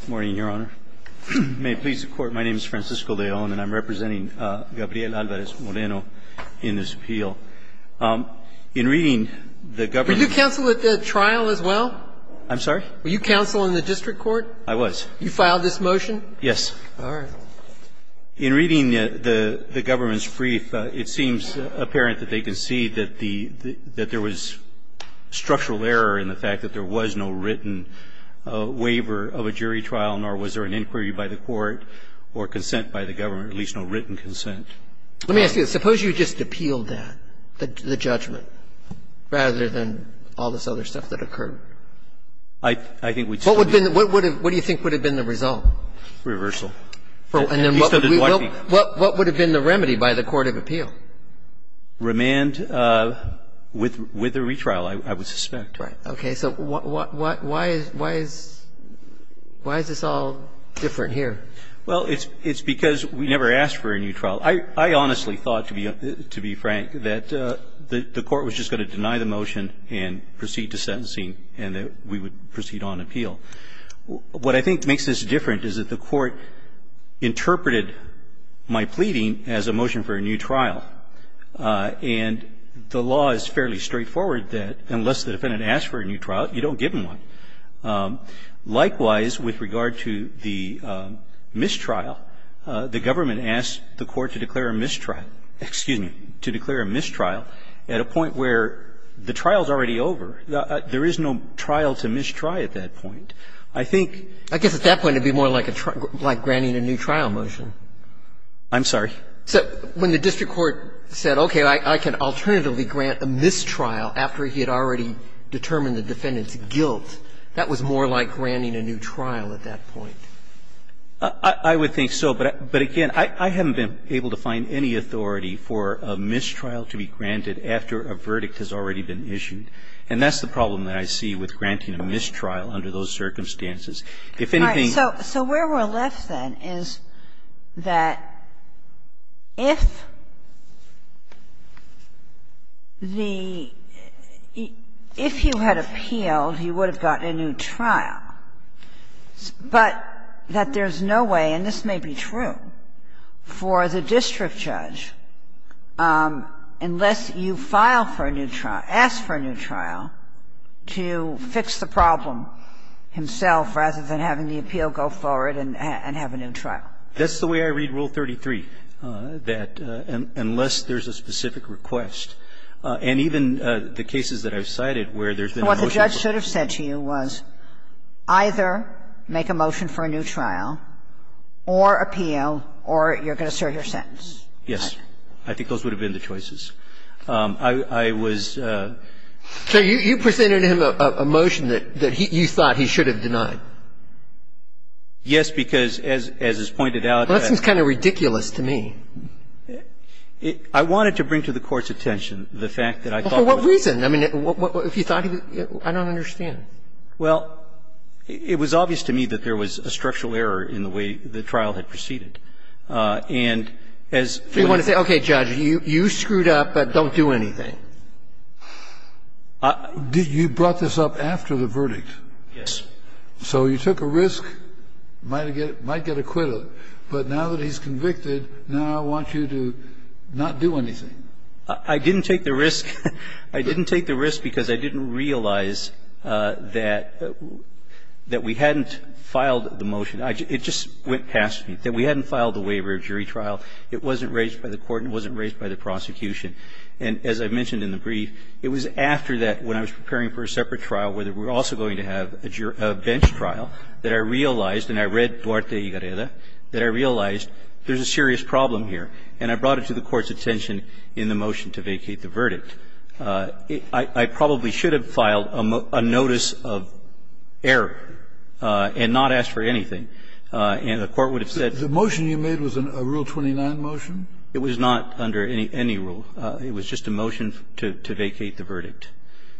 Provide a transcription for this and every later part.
Good morning, Your Honor. May it please the Court, my name is Francisco de Allen and I'm representing Gabriel Alvarez-Moreno in this appeal. In reading the government's Are you counsel at the trial as well? I'm sorry? Were you counsel in the district court? I was. You filed this motion? Yes. All right. In reading the government's brief, it seems apparent that they concede that there was no written waiver of a jury trial, nor was there an inquiry by the court or consent by the government, at least no written consent. Let me ask you this. Suppose you just appealed that, the judgment, rather than all this other stuff that occurred. I think we'd still be able to appeal. What do you think would have been the result? Reversal. And then what would have been the remedy by the court of appeal? Remand with a retrial, I would suspect. Right. Okay. So why is this all different here? Well, it's because we never asked for a new trial. I honestly thought, to be frank, that the court was just going to deny the motion and proceed to sentencing and that we would proceed on appeal. What I think makes this different is that the court interpreted my pleading as a motion for a new trial, and the law is fairly straightforward that unless the defendant asks for a new trial, you don't give him one. Likewise, with regard to the mistrial, the government asked the court to declare a mistrial at a point where the trial is already over. There is no trial to mistry at that point. I think at that point it would be more like granting a new trial motion. I'm sorry? When the district court said, okay, I can alternatively grant a mistrial after he had already determined the defendant's guilt, that was more like granting a new trial at that point. I would think so, but again, I haven't been able to find any authority for a mistrial to be granted after a verdict has already been issued, and that's the problem that I see with granting a mistrial under those circumstances. If anything else So where we're left, then, is that if the – if you had appealed, you would have gotten a new trial, but that there's no way, and this may be true, for the district judge, unless you file for a new trial, ask for a new trial, to fix the problem himself, rather than having the appeal go forward and have a new trial. That's the way I read Rule 33, that unless there's a specific request, and even the cases that I've cited where there's been a motion for a new trial to fix the problem. So what the judge should have said to you was either make a motion for a new trial or appeal, or you're going to serve your sentence. Yes. I think those would have been the choices. I was – So you presented him a motion that you thought he should have denied? Yes, because, as is pointed out, that's – Well, that seems kind of ridiculous to me. I wanted to bring to the Court's attention the fact that I thought – Well, for what reason? I mean, if you thought he – I don't understand. Well, it was obvious to me that there was a structural error in the way the trial had proceeded. And as – So you want to say, okay, Judge, you screwed up, but don't do anything. You brought this up after the verdict. Yes. So you took a risk, might get acquitted, but now that he's convicted, now I want you to not do anything. I didn't take the risk. I didn't take the risk because I didn't realize that we hadn't filed the motion. It just went past me, that we hadn't filed the waiver of jury trial. It wasn't raised by the Court and it wasn't raised by the prosecution. And as I mentioned in the brief, it was after that, when I was preparing for a separate trial, where we were also going to have a bench trial, that I realized, and I read Duarte y Gareda, that I realized there's a serious problem here. And I brought it to the Court's attention in the motion to vacate the verdict. I probably should have filed a notice of error and not asked for anything. And the Court would have said – The motion you made was a Rule 29 motion? It was not under any rule. It was just a motion to vacate the verdict.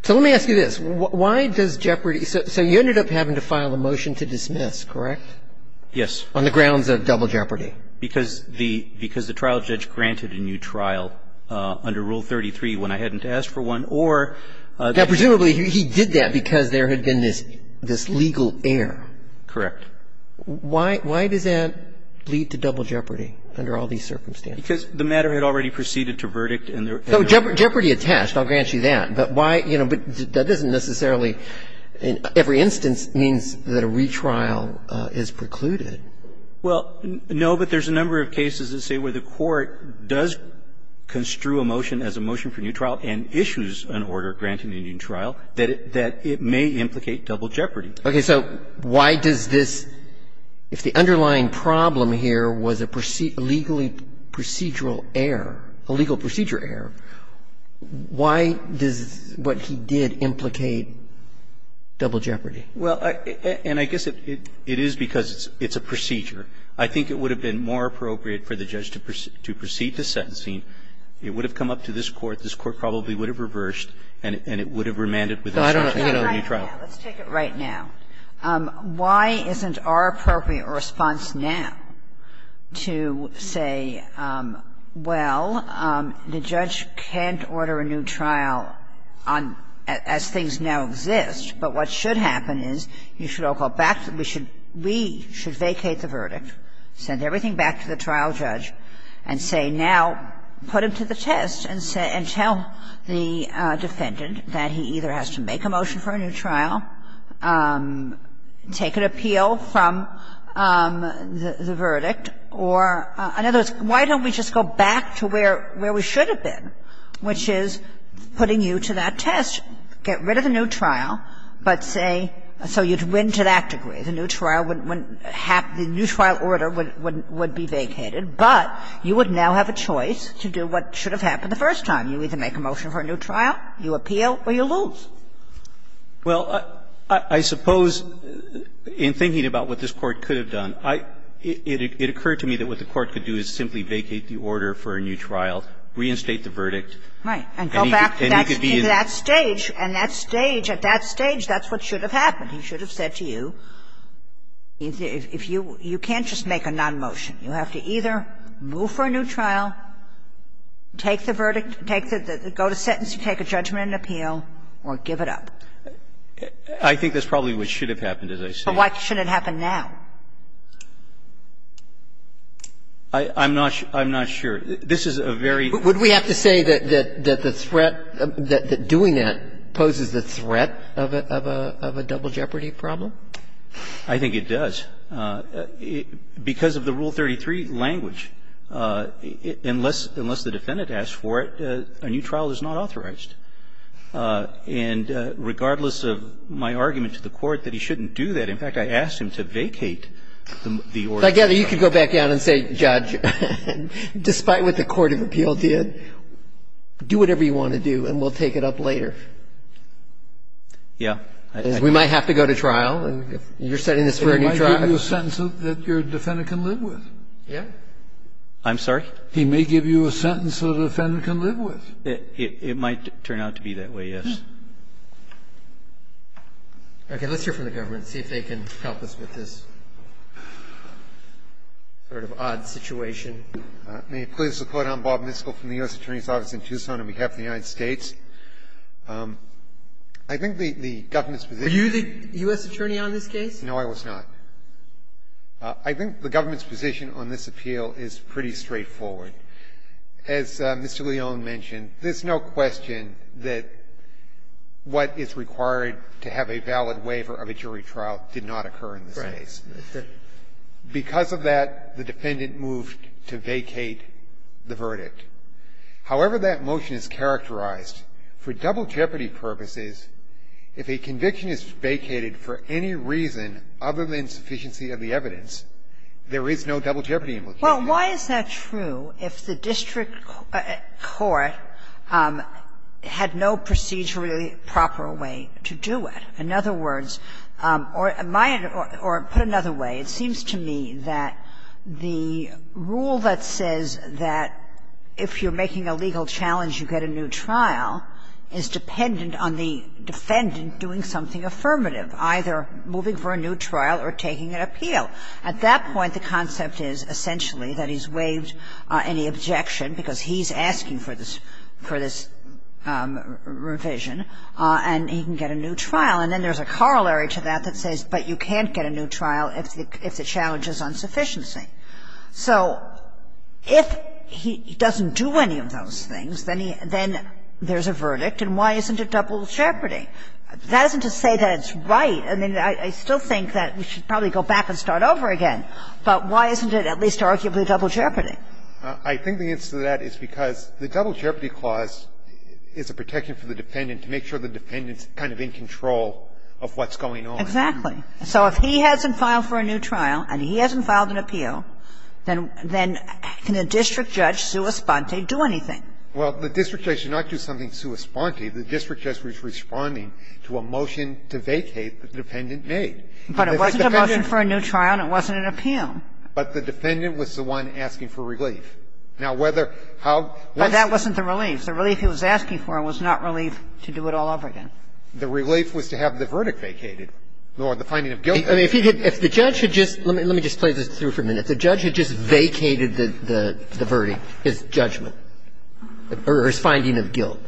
So let me ask you this. Why does Jeopardy – so you ended up having to file a motion to dismiss, correct? Yes. On the grounds of double jeopardy. Because the trial judge granted a new trial under Rule 33 when I hadn't asked for one, or – Now, presumably he did that because there had been this legal error. Correct. Why does that lead to double jeopardy under all these circumstances? Because the matter had already proceeded to verdict and there – So Jeopardy attached. I'll grant you that. But why – you know, but that isn't necessarily – every instance means that a retrial is precluded. Well, no, but there's a number of cases that say where the Court does construe a motion as a motion for new trial and issues an order granting a new trial, that it may implicate double jeopardy. Okay. So why does this – if the underlying problem here was a legally procedural error, a legal procedure error, why does what he did implicate double jeopardy? Well, and I guess it is because it's a procedure. I think it would have been more appropriate for the judge to proceed to sentencing. It would have come up to this Court. This Court probably would have reversed and it would have remanded with a new trial. So I don't know if we can order a new trial. Let's take it right now. Why isn't our appropriate response now to say, well, the judge can't order a new trial on – as things now exist, but what should happen is you should all go back, we should vacate the verdict, send everything back to the trial judge and say, now, put him to the test and tell the defendant that he either has to make a motion for a new trial, take an appeal from the verdict, or, in other words, why don't we just go back to where we should have been, which is putting you to that test. Get rid of the new trial, but say – so you'd win to that degree. The new trial wouldn't happen – the new trial order would be vacated, but you would now have a choice to do what should have happened the first time. You either make a motion for a new trial, you appeal, or you lose. Well, I suppose, in thinking about what this Court could have done, I – it occurred to me that what the Court could do is simply vacate the order for a new trial, reinstate the verdict, and he could be in the – Right. And go back to that stage, and that stage, at that stage, that's what should have happened. He should have said to you, if you – you can't just make a non-motion. You have to either move for a new trial, take the verdict, take the – go to sentence, you take a judgment and appeal, or give it up. I think that's probably what should have happened, as I say. But why shouldn't it happen now? I'm not – I'm not sure. This is a very – Would we have to say that the threat – that doing that poses the threat of a double jeopardy problem? I think it does. I think it does. But because of the Rule 33 language, unless the defendant asks for it, a new trial is not authorized. And regardless of my argument to the Court that he shouldn't do that, in fact, I asked him to vacate the order. I gather you could go back down and say, Judge, despite what the court of appeal did, do whatever you want to do, and we'll take it up later. Yeah. We might have to go to trial. And you're setting this for a new trial. He might give you a sentence that your defendant can live with. Yeah. I'm sorry? He may give you a sentence that a defendant can live with. It might turn out to be that way, yes. Okay. Let's hear from the government and see if they can help us with this sort of odd situation. May it please the Court, I'm Bob Miskol from the U.S. Attorney's Office in Tucson on behalf of the United States. I think the government's position Are you the U.S. attorney on this case? No, I was not. I think the government's position on this appeal is pretty straightforward. As Mr. Leone mentioned, there's no question that what is required to have a valid waiver of a jury trial did not occur in this case. Right. Because of that, the defendant moved to vacate the verdict. However, that motion is characterized for double jeopardy purposes, if a conviction is vacated for any reason other than sufficiency of the evidence, there is no double jeopardy implication. Well, why is that true if the district court had no procedurally proper way to do it? In other words, or put another way, it seems to me that the rule that says that if you're making a legal challenge, you get a new trial, is dependent on the defendant doing something affirmative, either moving for a new trial or taking an appeal. At that point, the concept is essentially that he's waived any objection, because he's asking for this revision, and he can get a new trial. And then there's a corollary to that that says, but you can't get a new trial if the challenge is on sufficiency. So if he doesn't do any of those things, then there's a verdict, and why isn't it double jeopardy? That isn't to say that it's right. I mean, I still think that we should probably go back and start over again. But why isn't it at least arguably double jeopardy? I think the answer to that is because the double jeopardy clause is a protection for the defendant to make sure the defendant's kind of in control of what's going on. Exactly. So if he hasn't filed for a new trial and he hasn't filed an appeal, then can a district judge, sua sponte, do anything? Well, the district judge should not do something sua sponte. The district judge was responding to a motion to vacate that the dependent made. But it wasn't a motion for a new trial, and it wasn't an appeal. But the defendant was the one asking for relief. Now, whether how was it? But that wasn't the relief. The relief he was asking for was not relief to do it all over again. The relief was to have the verdict vacated, nor the finding of guilt. I mean, if he had – if the judge had just – let me just play this through for a minute. If the judge had just vacated the verdict, his judgment, or his finding of guilt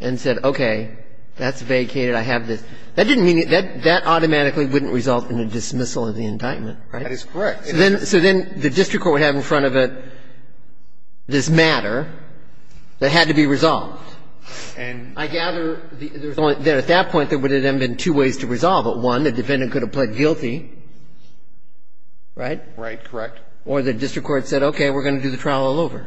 and said, okay, that's vacated, I have this, that didn't mean – that automatically wouldn't result in a dismissal of the indictment, right? That is correct. So then the district court would have in front of it this matter that had to be resolved. And I gather that at that point, there would have been two ways to resolve it. One, the defendant could have pled guilty, right? Right. Correct. Or the district court said, okay, we're going to do the trial all over.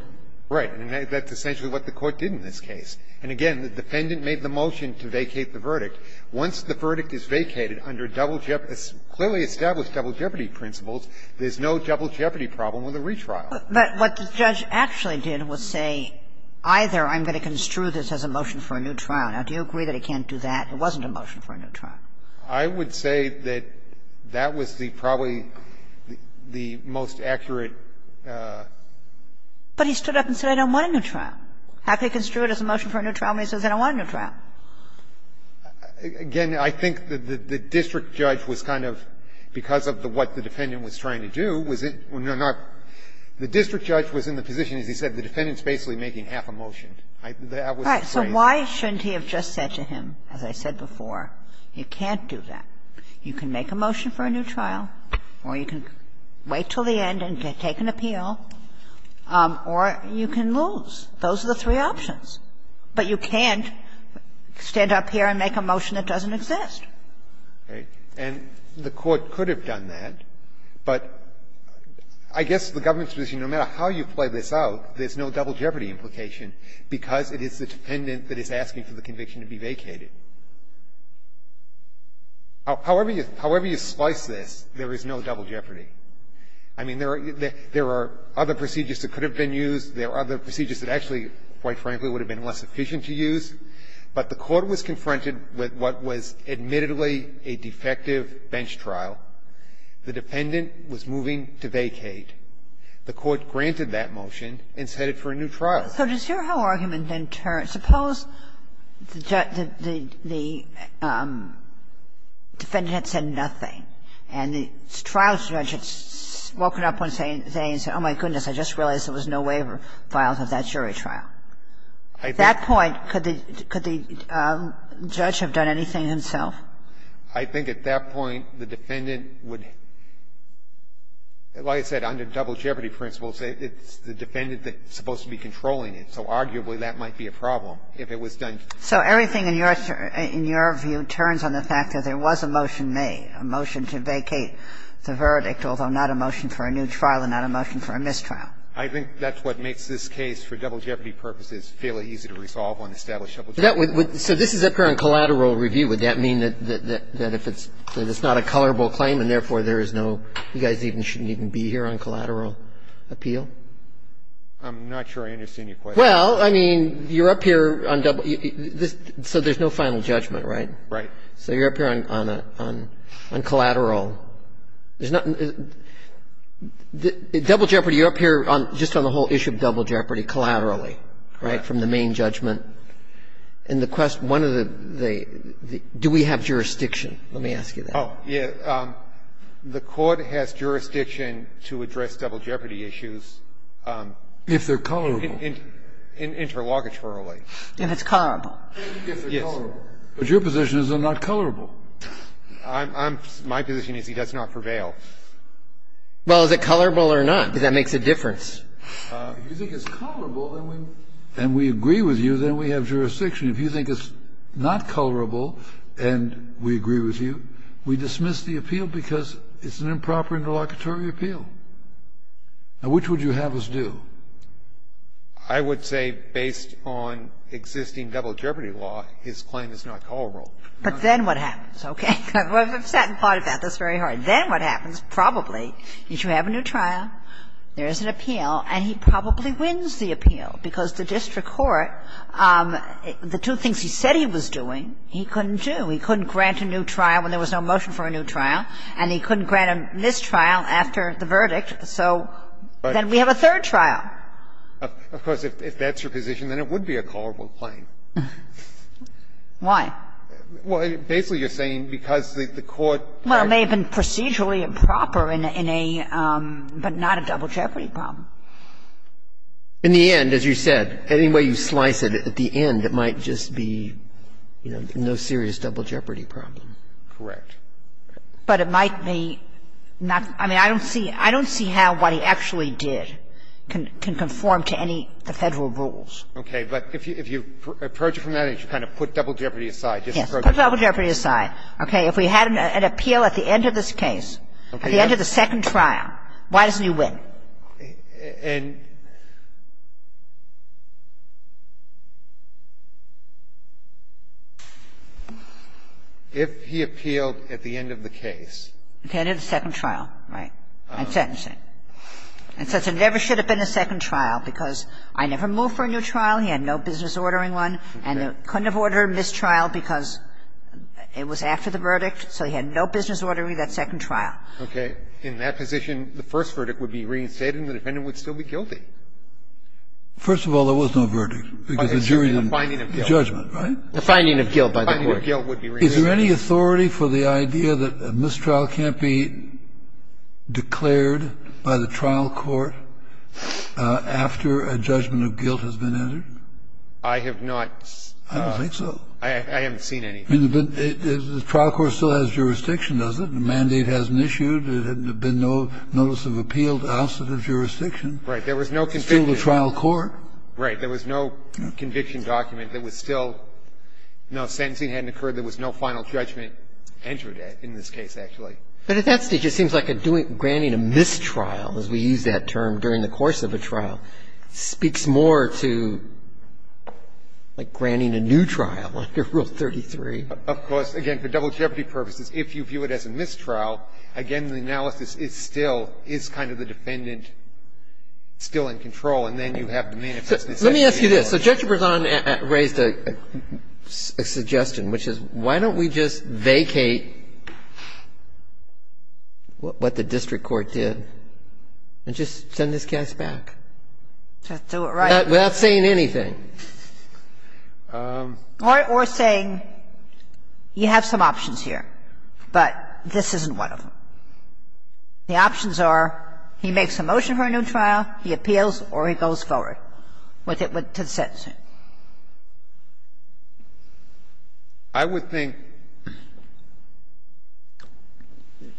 Right. And that's essentially what the Court did in this case. And again, the defendant made the motion to vacate the verdict. Once the verdict is vacated under double – clearly established double jeopardy principles, there's no double jeopardy problem with a retrial. But what the judge actually did was say, either I'm going to construe this as a motion for a new trial. Now, do you agree that he can't do that? It wasn't a motion for a new trial. I would say that that was the probably the most accurate – But he stood up and said, I don't want a new trial. Halfway construed as a motion for a new trial, but he says, I don't want a new trial. Again, I think that the district judge was kind of, because of what the defendant was trying to do, was it – the district judge was in the position, as he said, the defendant's basically making half a motion. That was the phrase. So why shouldn't he have just said to him, as I said before, you can't do that. You can make a motion for a new trial, or you can wait until the end and take an appeal, or you can lose. Those are the three options. But you can't stand up here and make a motion that doesn't exist. And the Court could have done that, but I guess the government's position, no matter how you play this out, there's no double jeopardy implication, because it is the defendant that is asking for the conviction to be vacated. However you slice this, there is no double jeopardy. I mean, there are other procedures that could have been used. There are other procedures that actually, quite frankly, would have been less efficient to use. But the Court was confronted with what was admittedly a defective bench trial. The defendant was moving to vacate. The Court granted that motion and set it for a new trial. Kagan. So does your whole argument then turn – suppose the defendant had said nothing, and the trial judge had woken up one day and said, oh, my goodness, I just realized there was no waiver filed for that jury trial. At that point, could the judge have done anything himself? I think at that point, the defendant would – like I said, under double jeopardy principles, it's the defendant that's supposed to be controlling it. So arguably, that might be a problem if it was done. So everything in your view turns on the fact that there was a motion made, a motion to vacate the verdict, although not a motion for a new trial and not a motion for a mistrial. I think that's what makes this case, for double jeopardy purposes, fairly easy to resolve on established double jeopardy. So this is up here on collateral review. Would that mean that if it's not a colorable claim and therefore there is no – you guys even shouldn't even be here on collateral appeal? I'm not sure I understand your question. Well, I mean, you're up here on double – so there's no final judgment, right? Right. So you're up here on collateral. Double jeopardy, you're up here just on the whole issue of double jeopardy collaterally, right, from the main judgment. And the question – one of the – do we have jurisdiction, let me ask you that. Oh, yes. The Court has jurisdiction to address double jeopardy issues if they're colorable. Interlogitorily. If it's colorable. Yes. But your position is they're not colorable. I'm – my position is he does not prevail. Well, is it colorable or not? Because that makes a difference. If you think it's colorable and we agree with you, then we have jurisdiction. If you think it's not colorable and we agree with you, we dismiss the appeal because it's an improper interlocutory appeal. Now, which would you have us do? I would say based on existing double jeopardy law, his claim is not colorable. But then what happens? Okay. I've sat and thought about this very hard. Then what happens, probably, is you have a new trial, there is an appeal, and he probably wins the appeal because the district court, the two things he said he was doing, he couldn't do. He couldn't grant a new trial when there was no motion for a new trial, and he couldn't grant a mistrial after the verdict, so then we have a third trial. Of course, if that's your position, then it would be a colorable claim. Why? Well, basically, you're saying because the court had to do it. Well, it may have been procedurally improper in a – but not a double jeopardy problem. In the end, as you said, any way you slice it, at the end, it might just be, you know, no serious double jeopardy problem. Correct. But it might be not – I mean, I don't see how what he actually did can conform to any of the Federal rules. Okay. But if you – if you approach it from that, you kind of put double jeopardy aside. Yes. Put double jeopardy aside. Okay. If we had an appeal at the end of this case, at the end of the second trial, why doesn't he win? And if he appealed at the end of the case – At the end of the second trial, right, and sentencing. And since there never should have been a second trial because I never moved for a new trial, he had no business ordering one, and couldn't have ordered a mistrial because it was after the verdict, so he had no business ordering that second trial. Okay. In that position, the first verdict would be reinstated and the defendant would still be guilty. First of all, there was no verdict because the jury didn't make the judgment, right? The finding of guilt by the court. The finding of guilt would be reinstated. Is there any authority for the idea that a mistrial can't be declared by the trial court after a judgment of guilt has been entered? I have not – I don't think so. I haven't seen any. I mean, the trial court still has jurisdiction, does it? The mandate hasn't issued. There had been no notice of appeal to ousted of jurisdiction. Right. There was no conviction. Still the trial court. Right. There was no conviction document that was still – no, sentencing hadn't occurred. There was no final judgment entered in this case, actually. But at that stage, it seems like a doing – granting a mistrial, as we use that term during the course of a trial, speaks more to, like, granting a new trial under Rule 33. Of course, again, for double jeopardy purposes, if you view it as a mistrial, again, the analysis is still – is kind of the defendant still in control, and then you have to manifest this at a different point. Let me ask you this. So Judge Berzon raised a suggestion, which is, why don't we just vacate what the district court did and just send this case back? To do it right. Without saying anything. Or saying, you have some options here, but this isn't one of them. The options are, he makes a motion for a new trial, he appeals, or he goes forward with it to the sentence. I would think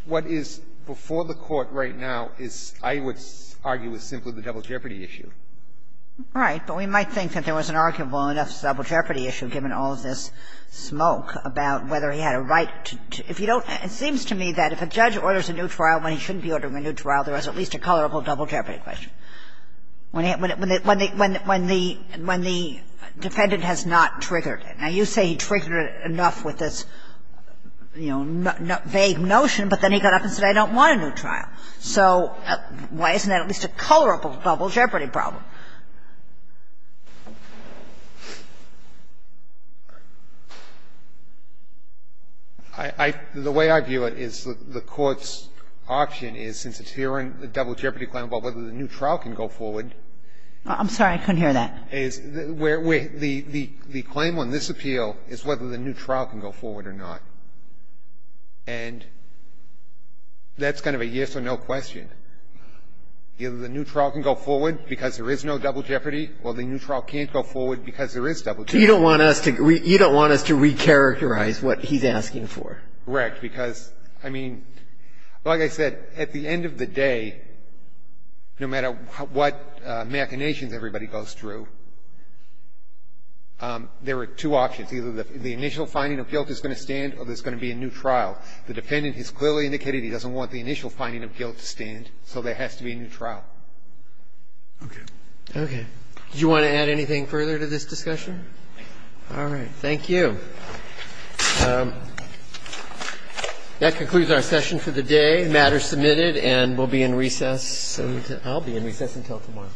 what is before the Court right now is, I would argue, is simply the double jeopardy issue. Right. But we might think that there was an arguable enough double jeopardy issue, given all of this smoke about whether he had a right to – if you don't – it seems to me that if a judge orders a new trial when he shouldn't be ordering a new trial, there is at least a colorable double jeopardy question. When the defendant has not triggered it. Now, you say he triggered it enough with this, you know, vague notion, but then he got up and said, I don't want a new trial. So why isn't that at least a colorable double jeopardy problem? I – the way I view it is the Court's option is, since it's here in the double jeopardy case, whether the new trial can go forward, is where the claim on this appeal is whether the new trial can go forward or not. And that's kind of a yes or no question. Either the new trial can go forward because there is no double jeopardy, or the new trial can't go forward because there is double jeopardy. So you don't want us to – you don't want us to recharacterize what he's asking for. Correct. Because, I mean, like I said, at the end of the day, no matter what machinations everybody goes through, there are two options. Either the initial finding of guilt is going to stand or there's going to be a new trial. The defendant has clearly indicated he doesn't want the initial finding of guilt to stand, so there has to be a new trial. Okay. Okay. Do you want to add anything further to this discussion? All right. Thank you. That concludes our session for the day. The matter is submitted and will be in recess until – I'll be in recess until tomorrow.